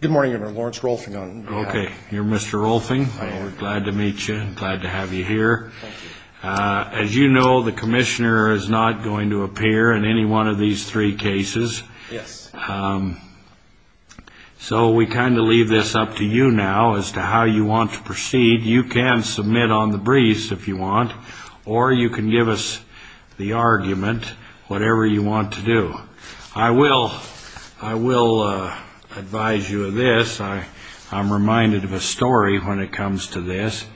Good morning, I'm Lawrence Rolfing. Okay, you're Mr. Rolfing. Glad to meet you, glad to have you here. Thank you. As you know, the commissioner is not going to appear in any one of these three cases. Yes. So we kind of leave this up to you now as to how you want to proceed. You can submit on the briefs if you want, or you can give us the argument, whatever you want to do. I will advise you of this. I'm reminded of a story when it comes to this.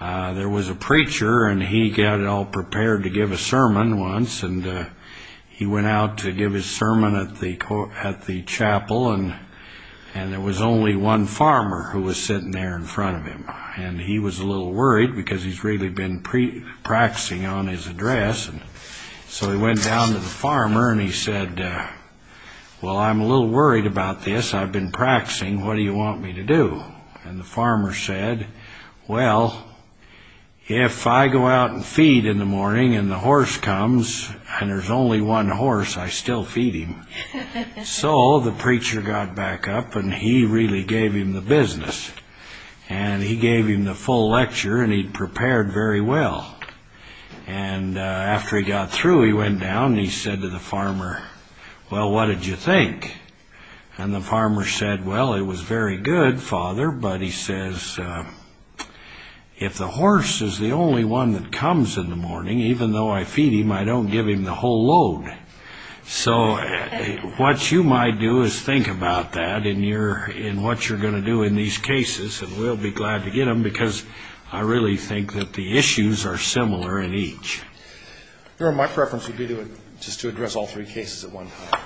There was a preacher, and he got it all prepared to give a sermon once, and he went out to give his sermon at the chapel, and there was only one farmer who was sitting there in front of him. And he was a little worried because he's really been practicing on his address. So he went down to the farmer, and he said, Well, I'm a little worried about this. I've been practicing. What do you want me to do? And the farmer said, Well, if I go out and feed in the morning, and the horse comes, and there's only one horse, I still feed him. So the preacher got back up, and he really gave him the business. And he gave him the full lecture, and he prepared very well. And after he got through, he went down, and he said to the farmer, Well, what did you think? And the farmer said, Well, it was very good, Father. But he says, If the horse is the only one that comes in the morning, even though I feed him, I don't give him the whole load. So what you might do is think about that in what you're going to do in these cases, and we'll be glad to get them, because I really think that the issues are similar in each. Your Honor, my preference would be just to address all three cases at one time.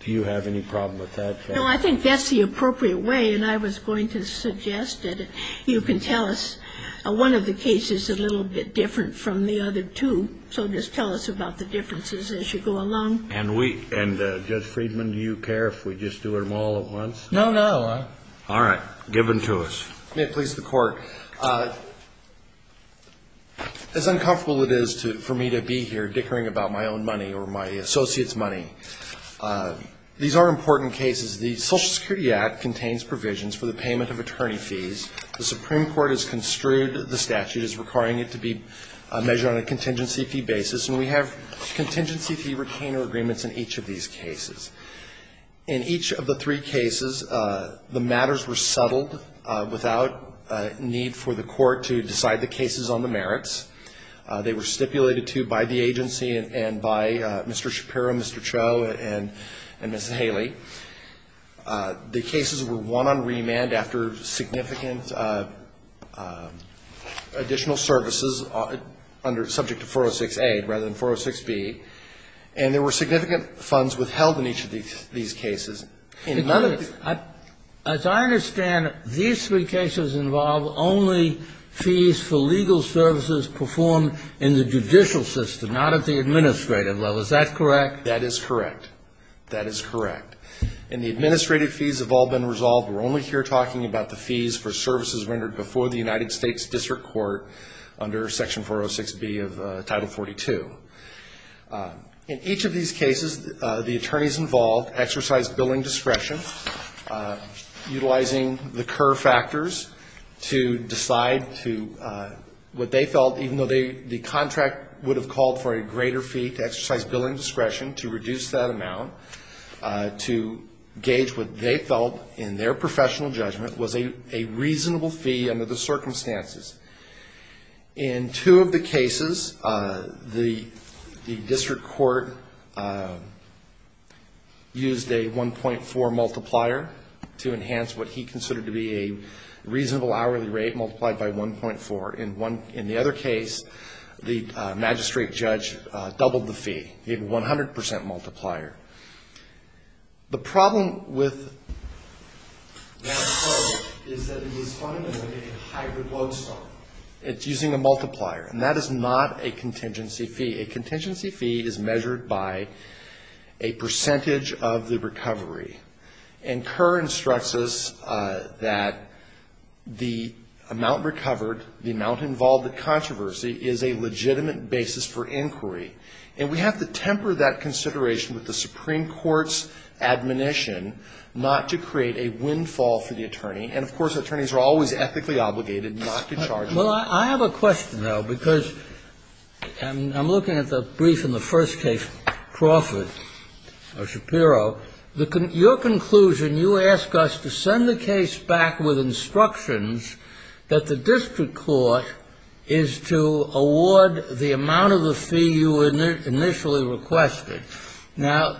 Do you have any problem with that case? No, I think that's the appropriate way, and I was going to suggest that you can tell us. One of the cases is a little bit different from the other two, so just tell us about the differences as you go along. And Judge Friedman, do you care if we just do them all at once? No, no. All right. Give them to us. May it please the Court. As uncomfortable as it is for me to be here dickering about my own money or my associate's money, these are important cases. The Social Security Act contains provisions for the payment of attorney fees. The Supreme Court has construed the statute as requiring it to be measured on a contingency fee basis, and we have contingency fee retainer agreements in each of these cases. In each of the three cases, the matters were settled without need for the Court to decide the cases on the merits. They were stipulated to by the agency and by Mr. Shapiro, Mr. Cho, and Mrs. Haley. The cases were won on remand after significant additional services subject to 406A rather than 406B, and there were significant funds withheld in each of these cases. As I understand it, these three cases involve only fees for legal services performed in the judicial system, not at the administrative level. Is that correct? That is correct. That is correct. And the administrative fees have all been resolved. We're only here talking about the fees for services rendered before the United States District Court under Section 406B of Title 42. In each of these cases, the attorneys involved exercised billing discretion, utilizing the Kerr factors to decide to what they felt, even though the contract would have called for a greater fee to exercise billing discretion to reduce that amount, to gauge what they felt in their professional judgment was a reasonable fee under the circumstances. In two of the cases, the district court used a 1.4 multiplier to enhance what he considered to be a reasonable hourly rate, multiplied by 1.4. In the other case, the magistrate judge doubled the fee. He had a 100 percent multiplier. The problem with that code is that it is fundamentally a hybrid Lodestar. It's using a multiplier. And that is not a contingency fee. A contingency fee is measured by a percentage of the recovery. And Kerr instructs us that the amount recovered, the amount involved in controversy, is a legitimate basis for inquiry. And we have to temper that consideration with the Supreme Court's admonition not to create a windfall for the attorney. And, of course, attorneys are always ethically obligated not to charge. Well, I have a question, though, because I'm looking at the brief in the first case, Crawford or Shapiro. Your conclusion, you ask us to send the case back with instructions that the district court is to award the amount of the fee you initially requested. Now,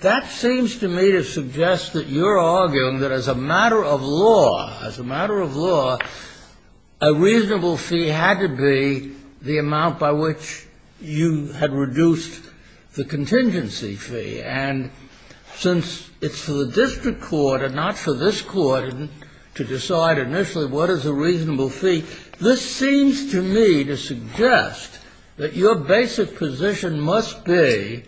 that seems to me to suggest that you're arguing that as a matter of law, as a matter of law, a reasonable fee had to be the amount by which you had reduced the contingency fee. And since it's for the district court and not for this court to decide initially what is a reasonable fee, this seems to me to suggest that your basic position must be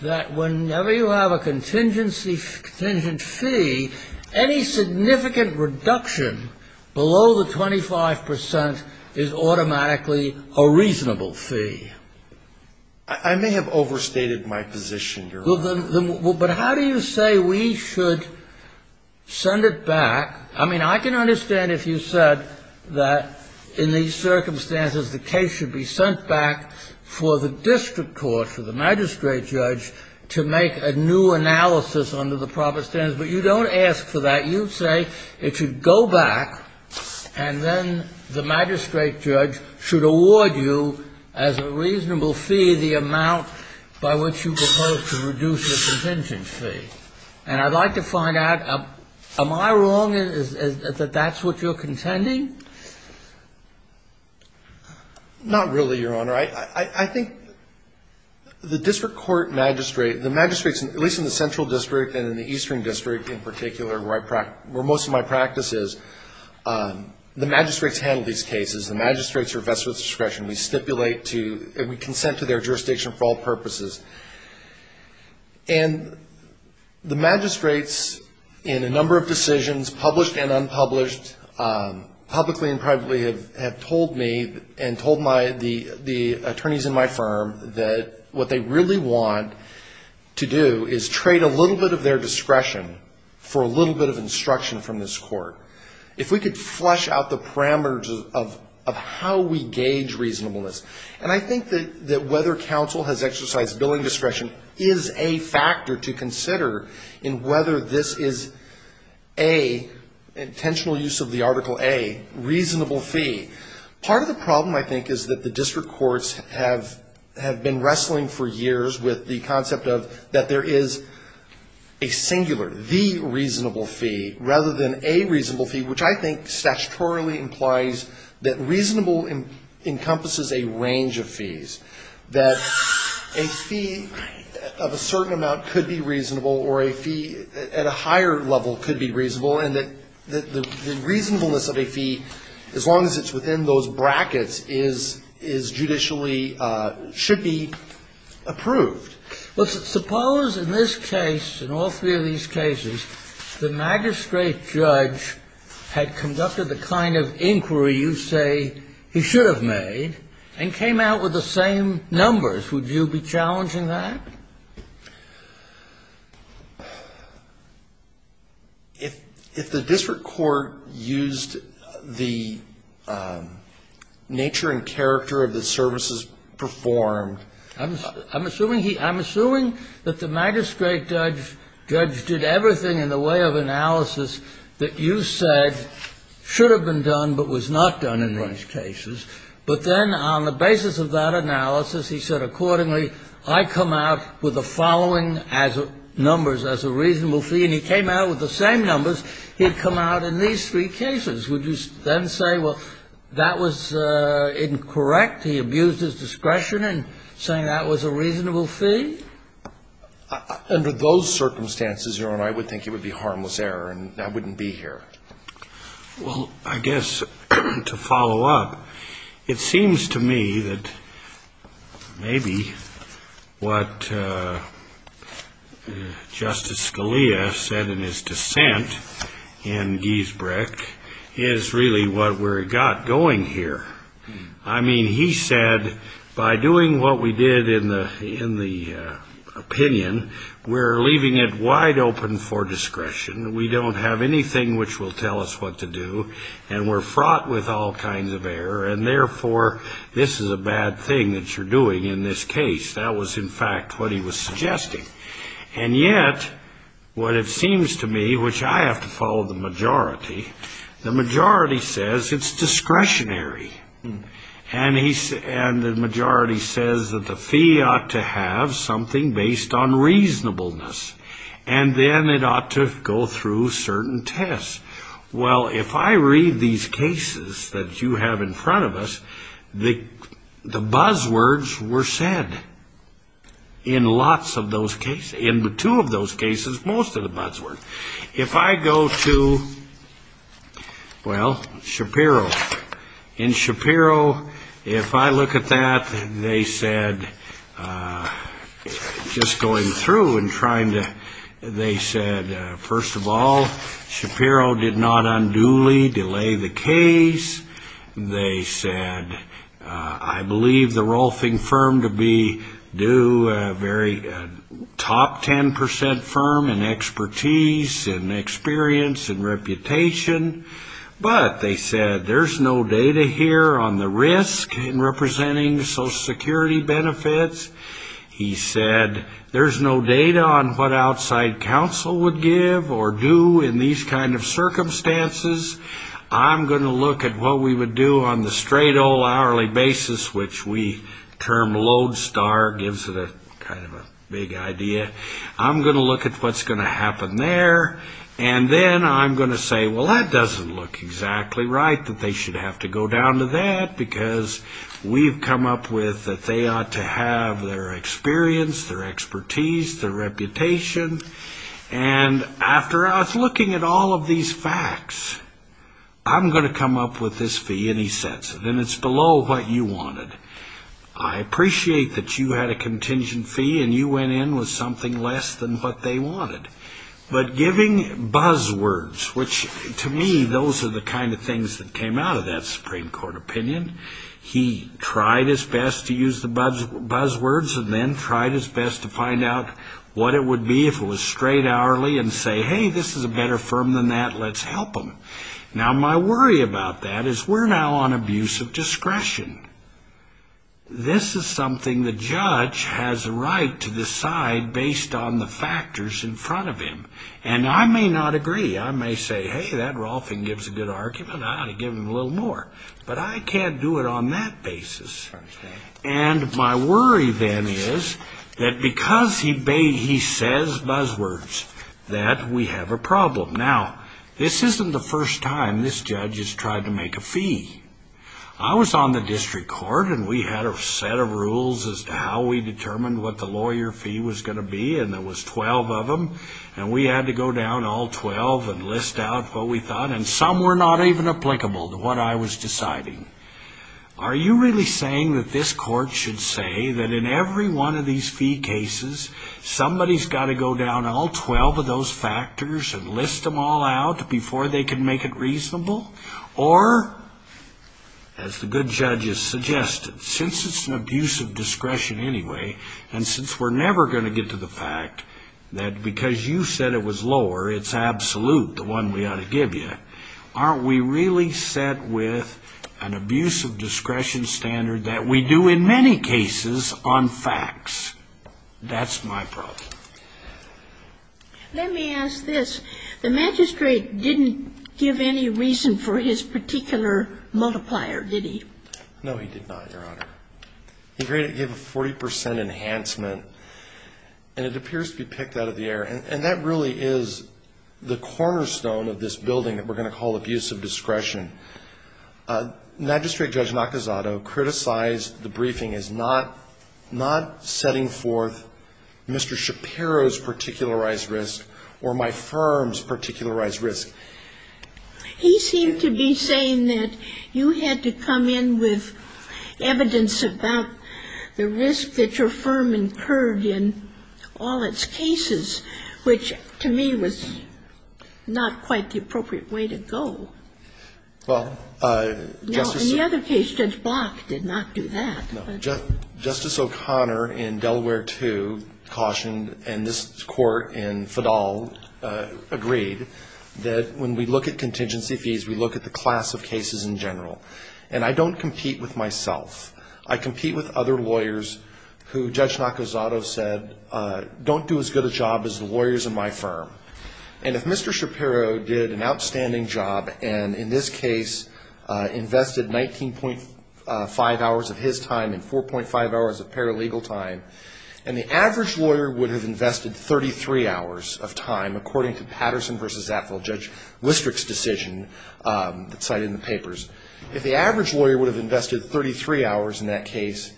that whenever you have a contingency fee, any significant reduction below the 25 percent is automatically a reasonable fee. I may have overstated my position, Your Honor. But how do you say we should send it back? I mean, I can understand if you said that in these circumstances the case should be sent back for the district court, for the magistrate judge, to make a new analysis under the proper standards. But you don't ask for that. You say it should go back, and then the magistrate judge should award you as a reasonable fee the amount by which you proposed to reduce the contingency fee. And I'd like to find out, am I wrong that that's what you're contending? Not really, Your Honor. I think the district court magistrate, the magistrates, at least in the central district and in the eastern district in particular, where most of my practice is, the magistrates handle these cases. The magistrates are vested with discretion. We stipulate to and we consent to their jurisdiction for all purposes. And the magistrates in a number of decisions, published and unpublished, publicly and privately, have told me and told the attorneys in my firm that what they really want to do is trade a little bit of their discretion for a little bit of instruction from this court. If we could flush out the parameters of how we gauge reasonableness. And I think that whether counsel has exercised billing discretion is a factor to consider in whether this is a intentional use of the Article A reasonable fee. Part of the problem, I think, is that the district courts have been wrestling for years with the concept of that there is a singular, the reasonable fee, rather than a reasonable fee, which I think statutorily implies that reasonable encompasses a range of fees, that a fee of a certain amount could be reasonable or a fee at a higher level could be reasonable, and that the reasonableness of a fee, as long as it's within those brackets, is judicially, should be approved. Well, suppose in this case, in all three of these cases, the magistrate judge had conducted the kind of inquiry you say he should have made and came out with the same numbers. Would you be challenging that? If the district court used the nature and character of the services performed I'm assuming that the magistrate judge did everything in the way of analysis that you said should have been done, but was not done in these cases. But then on the basis of that analysis, he said, accordingly, I come out with the following numbers as a reasonable fee, and he came out with the same numbers he'd come out in these three cases. Would you then say, well, that was incorrect? He abused his discretion in saying that was a reasonable fee? Under those circumstances, Your Honor, I would think it would be harmless error and I wouldn't be here. Well, I guess to follow up, it seems to me that maybe what Justice Scalia said in his dissent in Giesbrecht is really what we've got going here. I mean, he said, by doing what we did in the opinion, we're leaving it wide open for discretion. We don't have anything which will tell us what to do, and we're fraught with all kinds of error, and therefore, this is a bad thing that you're doing in this case. That was, in fact, what he was suggesting. And yet, what it seems to me, which I have to follow the majority, the majority says it's discretionary, and the majority says that the fee ought to have something based on reasonableness, and then it ought to go through certain tests. Well, if I read these cases that you have in front of us, the buzzwords were said in lots of those cases. In two of those cases, most of the buzzwords. If I go to, well, Shapiro. In Shapiro, if I look at that, they said, just going through and trying to, they said, first of all, Shapiro did not unduly delay the case. They said, I believe the Rolfing firm to be due a very top 10% firm in expertise and experience and reputation, but they said, there's no data here on the risk in representing Social Security benefits. He said, there's no data on what outside counsel would give or do in these kind of circumstances. I'm going to look at what we would do on the straight old hourly basis, which we term load star gives it a kind of a big idea. I'm going to look at what's going to happen there, and then I'm going to say, well, that doesn't look exactly right, that they should have to go down to that, because we've come up with that they ought to have their experience, their expertise, their reputation, and after I was looking at all of these facts, I'm going to come up with this fee, and he sets it, and it's below what you wanted. I appreciate that you had a contingent fee, and you went in with something less than what they wanted, but giving buzzwords, which to me, those are the kind of things that came out of that Supreme Court opinion. He tried his best to use the buzzwords and then tried his best to find out what it would be if it was straight hourly and say, hey, this is a better firm than that, let's help them. Now, my worry about that is we're now on abuse of discretion. This is something the judge has a right to decide based on the factors in front of him, and I may not agree. I may say, hey, that Rolfing gives a good argument, I ought to give him a little more, but I can't do it on that basis, and my worry then is that because he says buzzwords, that we have a problem. Now, this isn't the first time this judge has tried to make a fee. I was on the district court, and we had a set of rules as to how we determined what the lawyer fee was going to be, and there was 12 of them, and we had to go down all 12 and list out what we thought, and some were not even applicable to what I was deciding. Are you really saying that this court should say that in every one of these fee cases, somebody's got to go down all 12 of those factors and list them all out before they can make it reasonable? Or, as the good judges suggested, since it's an abuse of discretion anyway, and since we're never going to get to the fact that because you said it was lower, it's absolute, the one we ought to give you, aren't we really set with an abuse of discretion standard that we do in many cases on facts? That's my problem. Let me ask this. The magistrate didn't give any reason for his particular multiplier, did he? No, he did not, Your Honor. He gave a 40% enhancement, and it appears to be picked out of the air, and that really is the cornerstone of this building that we're going to call abuse of discretion. Magistrate Judge Nakazato criticized the briefing as not setting forth Mr. Shapiro's particularized risk or my firm's particularized risk. He seemed to be saying that you had to come in with evidence about the risk that your firm incurred in all its cases, which to me was not quite the appropriate way to go. Well, Justice ---- Now, in the other case, Judge Block did not do that. No. Justice O'Connor in Delaware II cautioned, and this Court in Fadal agreed, that when we look at contingency fees, we look at the class of cases in general. And I don't compete with myself. I compete with other lawyers who Judge Nakazato said don't do as good a job as the lawyers in my firm. And if Mr. Shapiro did an outstanding job and, in this case, invested 19.5 hours of his time and 4.5 hours of paralegal time, and the average lawyer would have invested 33 hours of time, according to Patterson v. Zatvill, Judge Listerick's decision cited in the papers, if the average lawyer would have invested 33 hours in that case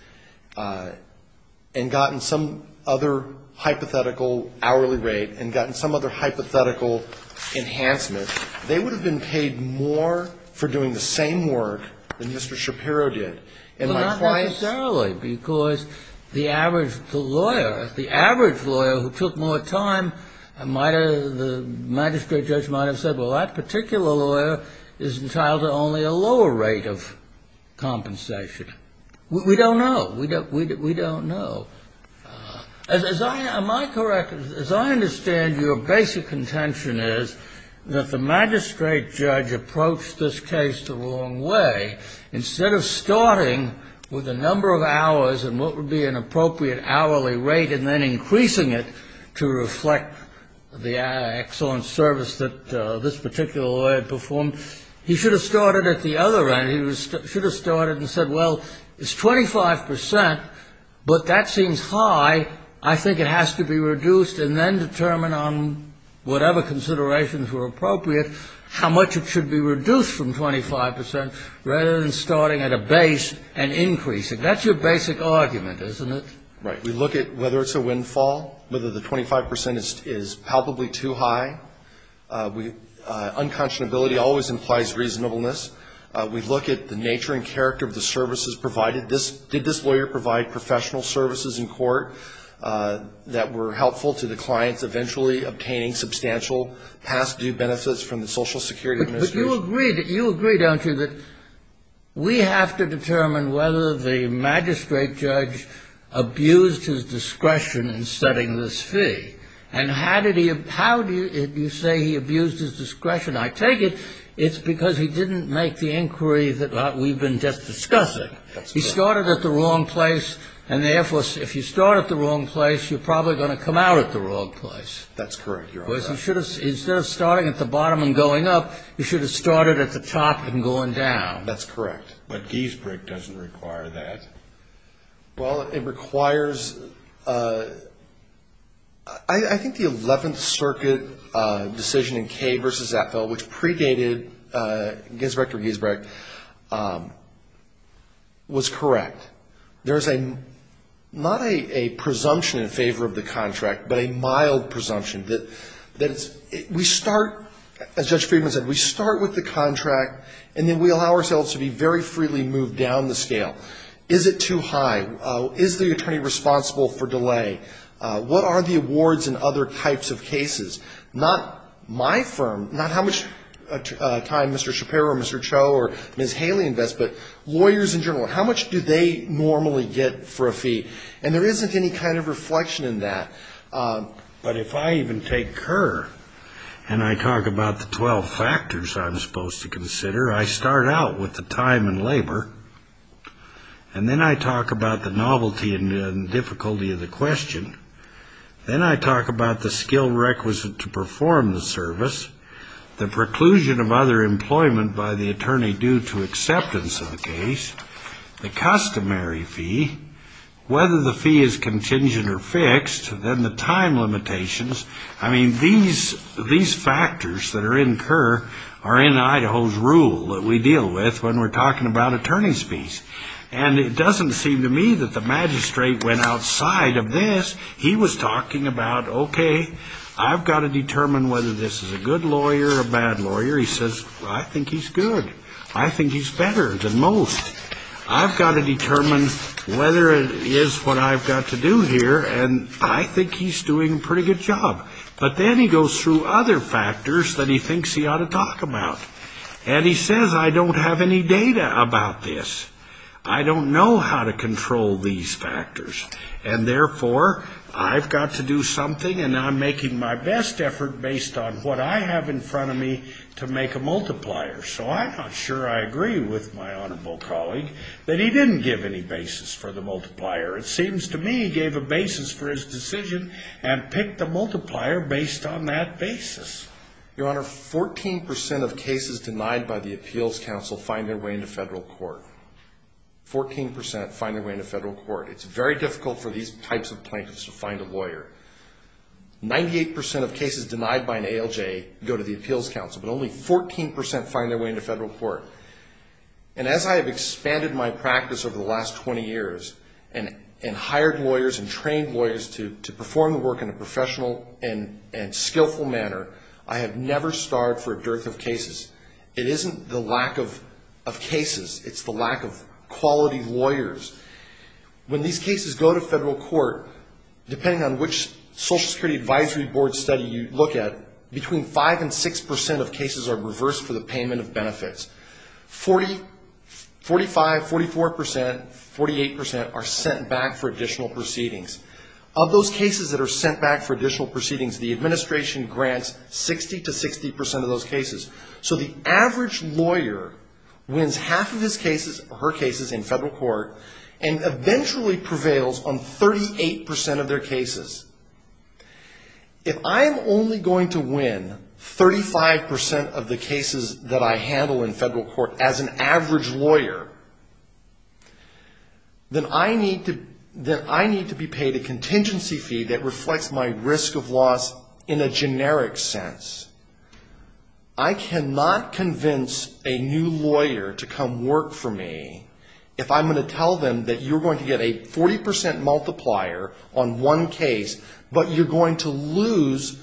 and gotten some other hypothetical hourly rate and gotten some other hypothetical enhancement, they would have been paid more for doing the same work than Mr. Shapiro did. And my clients ---- Well, not necessarily, because the average lawyer who took more time, the magistrate judge might have said, well, that particular lawyer is entitled to only a lower rate of compensation. We don't know. We don't know. Am I correct? As I understand, your basic contention is that the magistrate judge approached this case the wrong way. Instead of starting with a number of hours and what would be an appropriate hourly rate and then increasing it to reflect the excellent service that this particular lawyer had performed, he should have started at the other end. He should have started and said, well, it's 25 percent, but that seems high. I think it has to be reduced and then determine on whatever considerations were appropriate how much it should be reduced from 25 percent rather than starting at a base and increasing. That's your basic argument, isn't it? Right. We look at whether it's a windfall, whether the 25 percent is palpably too high. Unconscionability always implies reasonableness. We look at the nature and character of the services provided. Did this lawyer provide professional services in court that were helpful to the clients, eventually obtaining substantial past due benefits from the Social Security Administration? But you agree, don't you, that we have to determine whether the magistrate judge abused his discretion in setting this fee. And how did he abuse his discretion? I take it it's because he didn't make the inquiry that we've been just discussing. He started at the wrong place. And, therefore, if you start at the wrong place, you're probably going to come out at the wrong place. That's correct. Instead of starting at the bottom and going up, you should have started at the top and gone down. That's correct. But Giesbrecht doesn't require that. Well, it requires – I think the Eleventh Circuit decision in Kay v. Zapfel, which predated Giesbrecht v. Giesbrecht, was correct. There's not a presumption in favor of the contract, but a mild presumption. We start, as Judge Friedman said, we start with the contract, and then we allow ourselves to be very freely moved down the scale. Is it too high? Is the attorney responsible for delay? What are the awards in other types of cases? Not my firm, not how much time Mr. Shapiro or Mr. Cho or Ms. Haley invests, but lawyers in general, how much do they normally get for a fee? And there isn't any kind of reflection in that. But if I even take Kerr and I talk about the 12 factors I'm supposed to consider, I start out with the time and labor, and then I talk about the novelty and difficulty of the question. Then I talk about the skill requisite to perform the service, the preclusion of other employment by the attorney due to acceptance of the case, the customary fee, whether the fee is contingent or fixed, and then the time limitations. I mean, these factors that are in Kerr are in Idaho's rule that we deal with when we're talking about attorney's fees. And it doesn't seem to me that the magistrate went outside of this. He was talking about, okay, I've got to determine whether this is a good lawyer or a bad lawyer. He says, I think he's good. I think he's better than most. I've got to determine whether it is what I've got to do here, and I think he's doing a pretty good job. But then he goes through other factors that he thinks he ought to talk about, and he says, I don't have any data about this. I don't know how to control these factors, and therefore I've got to do something and I'm making my best effort based on what I have in front of me to make a multiplier. So I'm not sure I agree with my honorable colleague that he didn't give any basis for the multiplier. It seems to me he gave a basis for his decision and picked the multiplier based on that basis. Your Honor, 14% of cases denied by the appeals council find their way into federal court. 14% find their way into federal court. It's very difficult for these types of plaintiffs to find a lawyer. 98% of cases denied by an ALJ go to the appeals council, but only 14% find their way into federal court. And as I have expanded my practice over the last 20 years and hired lawyers and trained lawyers to perform the work in a professional and skillful manner, I have never starved for a dearth of cases. It isn't the lack of cases, it's the lack of quality lawyers. When these cases go to federal court, depending on which Social Security Advisory Board study you look at, between 5% and 6% of cases are reversed for the payment of benefits. 45%, 44%, 48% are sent back for additional proceedings. Of those cases that are sent back for additional proceedings, the administration grants 60% to 60% of those cases. So the average lawyer wins half of his cases or her cases in federal court and eventually prevails on 38% of their cases. If I'm only going to win 35% of the cases that I handle in federal court as an average lawyer, then I need to be paid a contingency fee that reflects my risk of loss in a generic sense. I cannot convince a new lawyer to come work for me if I'm going to tell them that you're going to get a 40% multiplier on one case, but you're going to lose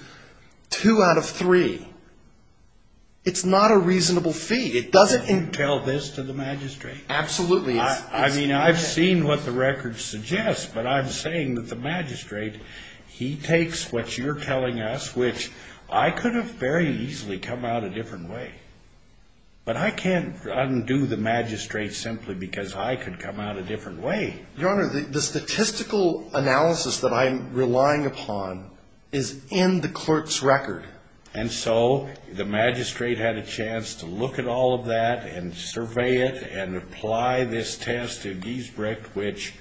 2 out of 3. It's not a reasonable fee. Absolutely. I mean, I've seen what the records suggest, but I'm saying that the magistrate, he takes what you're telling us, which I could have very easily come out a different way. But I can't undo the magistrate simply because I could come out a different way. Your Honor, the statistical analysis that I'm relying upon is in the clerk's record. And so the magistrate had a chance to look at all of that and survey it and apply this test to Giesbrecht, which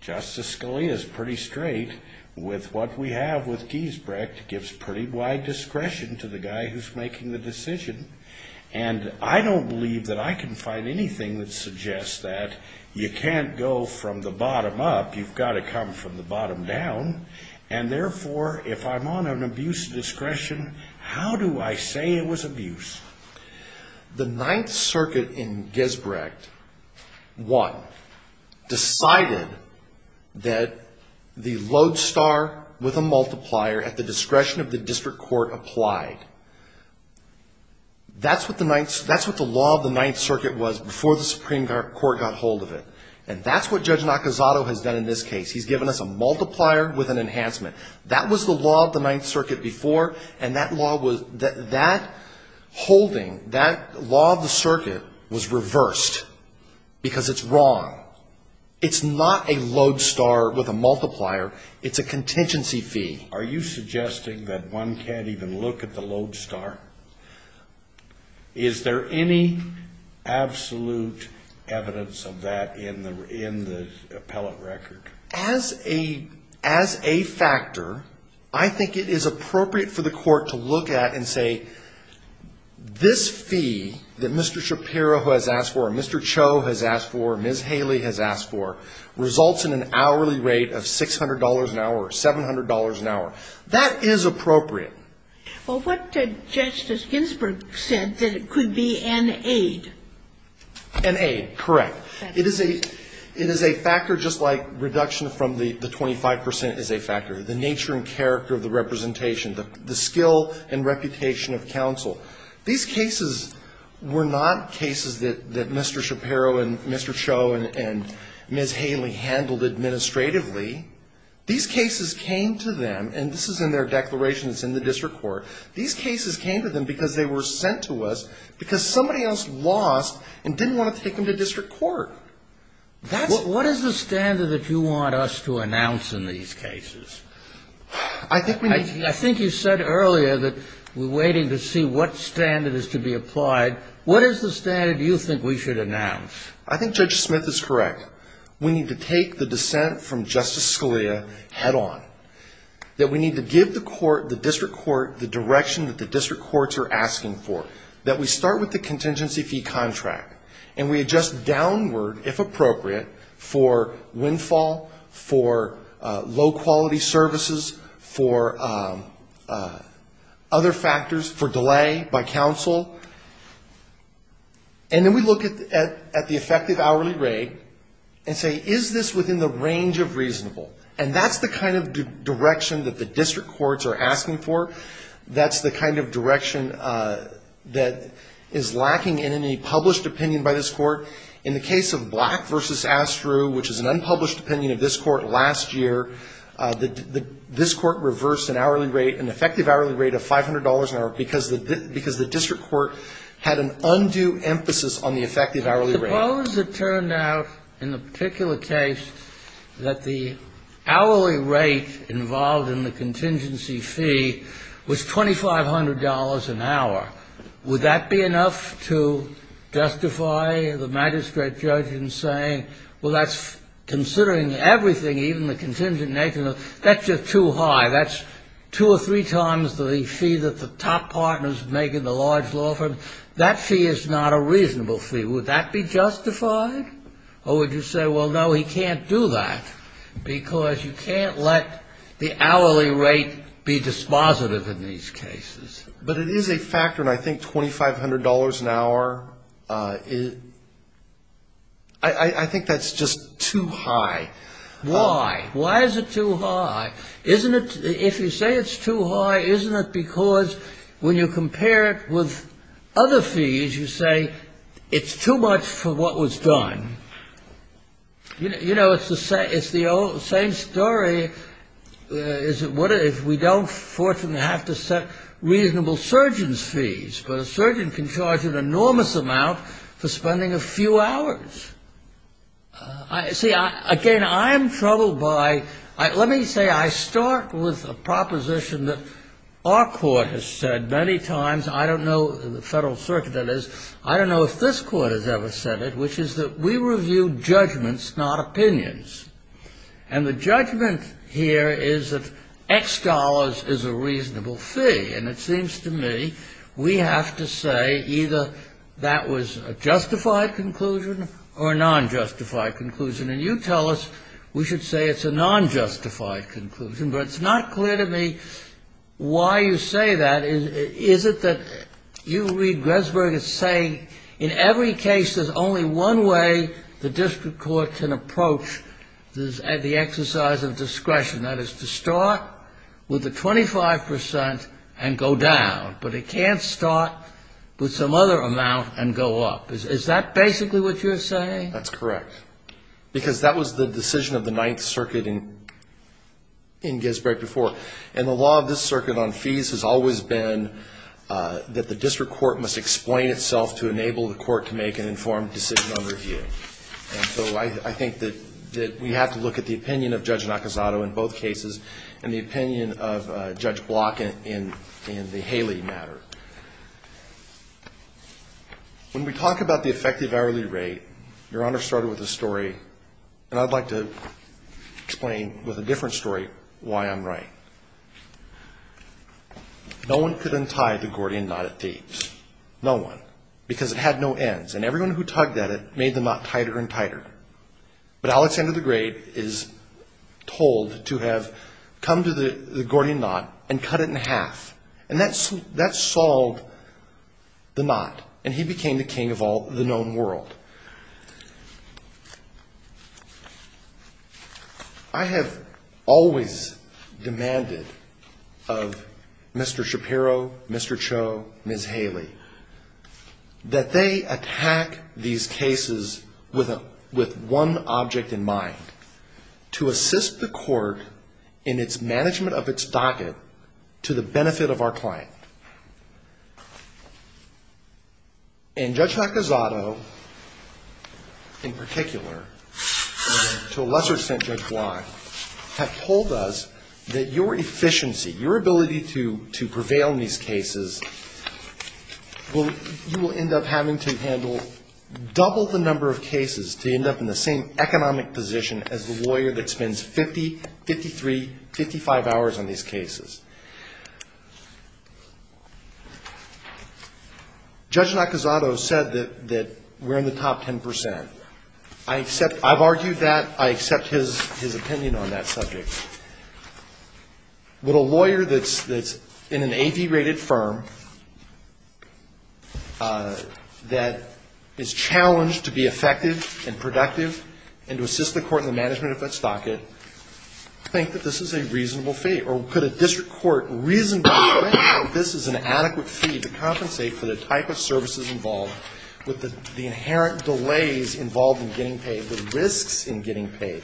Justice Scalia is pretty straight with what we have with Giesbrecht, Giesbrecht gives pretty wide discretion to the guy who's making the decision. And I don't believe that I can find anything that suggests that you can't go from the bottom up. You've got to come from the bottom down. And therefore, if I'm on an abuse of discretion, how do I say it was abuse? The Ninth Circuit in Giesbrecht, one, decided that the lodestar with a multiplier at the discretion of the district court applied. That's what the law of the Ninth Circuit was before the Supreme Court got hold of it. And that's what Judge Nakazato has done in this case. He's given us a multiplier with an enhancement. That was the law of the Ninth Circuit before, and that holding, that law of the circuit was reversed because it's wrong. It's not a lodestar with a multiplier. It's a contingency fee. Are you suggesting that one can't even look at the lodestar? Is there any absolute evidence of that in the appellate record? As a factor, I think it is appropriate for the court to look at and say, this fee that Mr. Shapiro has asked for, Mr. Cho has asked for, Ms. Haley has asked for, results in an hourly rate of $600 an hour or $700 an hour. That is appropriate. Well, what did Justice Ginsburg said, that it could be an aid? An aid, correct. It is a factor just like reduction from the 25 percent is a factor. The nature and character of the representation, the skill and reputation of counsel. These cases were not cases that Mr. Shapiro and Mr. Cho and Ms. Haley handled administratively. These cases came to them, and this is in their declaration. It's in the district court. These cases came to them because they were sent to us because somebody else lost and didn't want to take them to district court. What is the standard that you want us to announce in these cases? I think we need to. I think you said earlier that we're waiting to see what standard is to be applied. What is the standard you think we should announce? I think Judge Smith is correct. We need to take the dissent from Justice Scalia head on, that we need to give the court, the district court, the direction that the district courts are asking for, that we start with the contingency fee contract, and we adjust downward, if appropriate, for windfall, for low-quality services, for other factors, for delay by counsel. And then we look at the effective hourly rate and say, is this within the range of reasonable? And that's the kind of direction that the district courts are asking for. That's the kind of direction that is lacking in any published opinion by this court. In the case of Black v. Astrew, which is an unpublished opinion of this court last year, this court reversed an hourly rate, an effective hourly rate of $500 an hour, because the district court had an undue emphasis on the effective hourly rate. Suppose it turned out, in the particular case, that the hourly rate involved in the contingency fee was $2,500 an hour. Would that be enough to justify the magistrate judge in saying, well, that's considering everything, even the contingent nature of it. That's just too high. That's two or three times the fee that the top partners make in the large law firm. That fee is not a reasonable fee. Would that be justified? Or would you say, well, no, he can't do that, because you can't let the hourly rate be dispositive in these cases. But it is a factor, and I think $2,500 an hour, I think that's just too high. Why? Why is it too high? Isn't it, if you say it's too high, isn't it because when you compare it with other fees, you say it's too much for what was done? You know, it's the same story as if we don't, fortunately, have to set reasonable surgeons' fees. But a surgeon can charge an enormous amount for spending a few hours. See, again, I'm troubled by, let me say I start with a proposition that our court has said many times. I don't know, the Federal Circuit that is, I don't know if this court has ever said it, which is that we review judgments, not opinions. And the judgment here is that X dollars is a reasonable fee. And it seems to me we have to say either that was a justified conclusion or a non-justified conclusion. And you tell us we should say it's a non-justified conclusion. But it's not clear to me why you say that. Is it that you read Gressberg as saying, in every case there's only one way the district court can approach the exercise of discretion, that is to start with the 25 percent and go down. But it can't start with some other amount and go up. Is that basically what you're saying? That's correct. Because that was the decision of the Ninth Circuit in Gressberg before. And the law of this circuit on fees has always been that the district court must explain itself to enable the court to make an informed decision on review. And so I think that we have to look at the opinion of Judge Nakazato in both cases and the opinion of Judge Block in the Haley matter. When we talk about the effective hourly rate, Your Honor started with a story, and I'd like to explain with a different story why I'm right. No one could untie the Gordian knot at Thebes. No one. Because it had no ends. And everyone who tugged at it made the knot tighter and tighter. But Alexander the Great is told to have come to the Gordian knot and cut it in half. And that solved the knot. And he became the king of all the known world. I have always demanded of Mr. Shapiro, Mr. Cho, Ms. Haley, that they attack these cases with one object in mind, to assist the court in its management of its docket to the benefit of our client. And Judge Nakazato, in particular, to a lesser extent Judge Block, have told us that your efficiency, your ability to prevail in these cases, you will end up having to handle double the number of cases to end up in the same economic position as the lawyer that spends 50, 53, 55 hours on these cases. Judge Nakazato said that we're in the top 10 percent. I've argued that. I accept his opinion on that subject. Would a lawyer that's in an AV-rated firm that is challenged to be effective and productive and to assist the court in the management of its docket think that this is a reasonable fee? Or could a district court reasonably say that this is an adequate fee to compensate for the type of services involved with the inherent delays involved in getting paid, the risks in getting paid?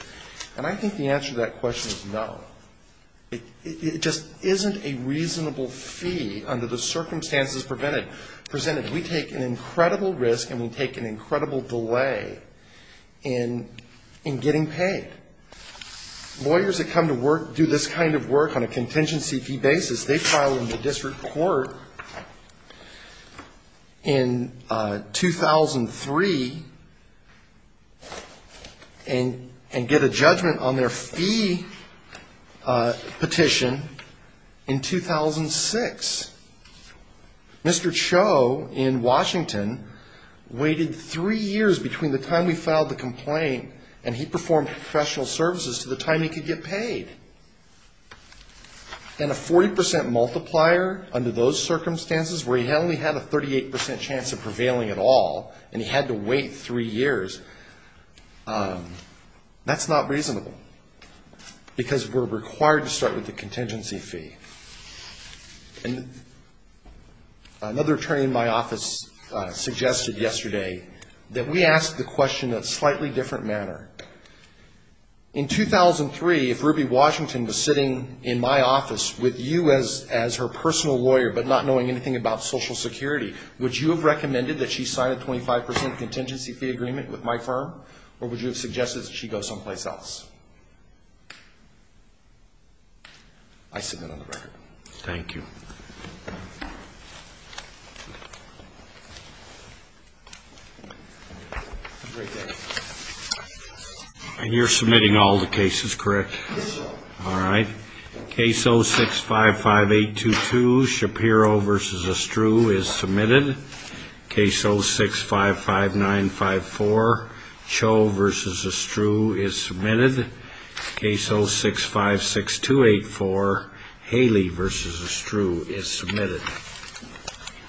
And I think the answer to that question is no. It just isn't a reasonable fee under the circumstances presented. We take an incredible risk and we take an incredible delay in getting paid. Lawyers that come to work, do this kind of work on a contingency fee basis, they file in the district court in 2003 and get a judgment on their fee petition in 2006. Mr. Cho in Washington waited three years between the time we filed the complaint and he performed professional services to the time he could get paid. And a 40 percent multiplier under those circumstances where he only had a 38 percent chance of prevailing at all and he had to wait three years, that's not reasonable. Because we're required to start with the contingency fee. Another attorney in my office suggested yesterday that we ask the question in a slightly different manner. In 2003, if Ruby Washington was sitting in my office with you as her personal lawyer but not knowing anything about social security, would you have recommended that she sign a 25 percent contingency fee agreement with my firm or would you have suggested that she go someplace else? I submit on the record. Thank you. Thank you.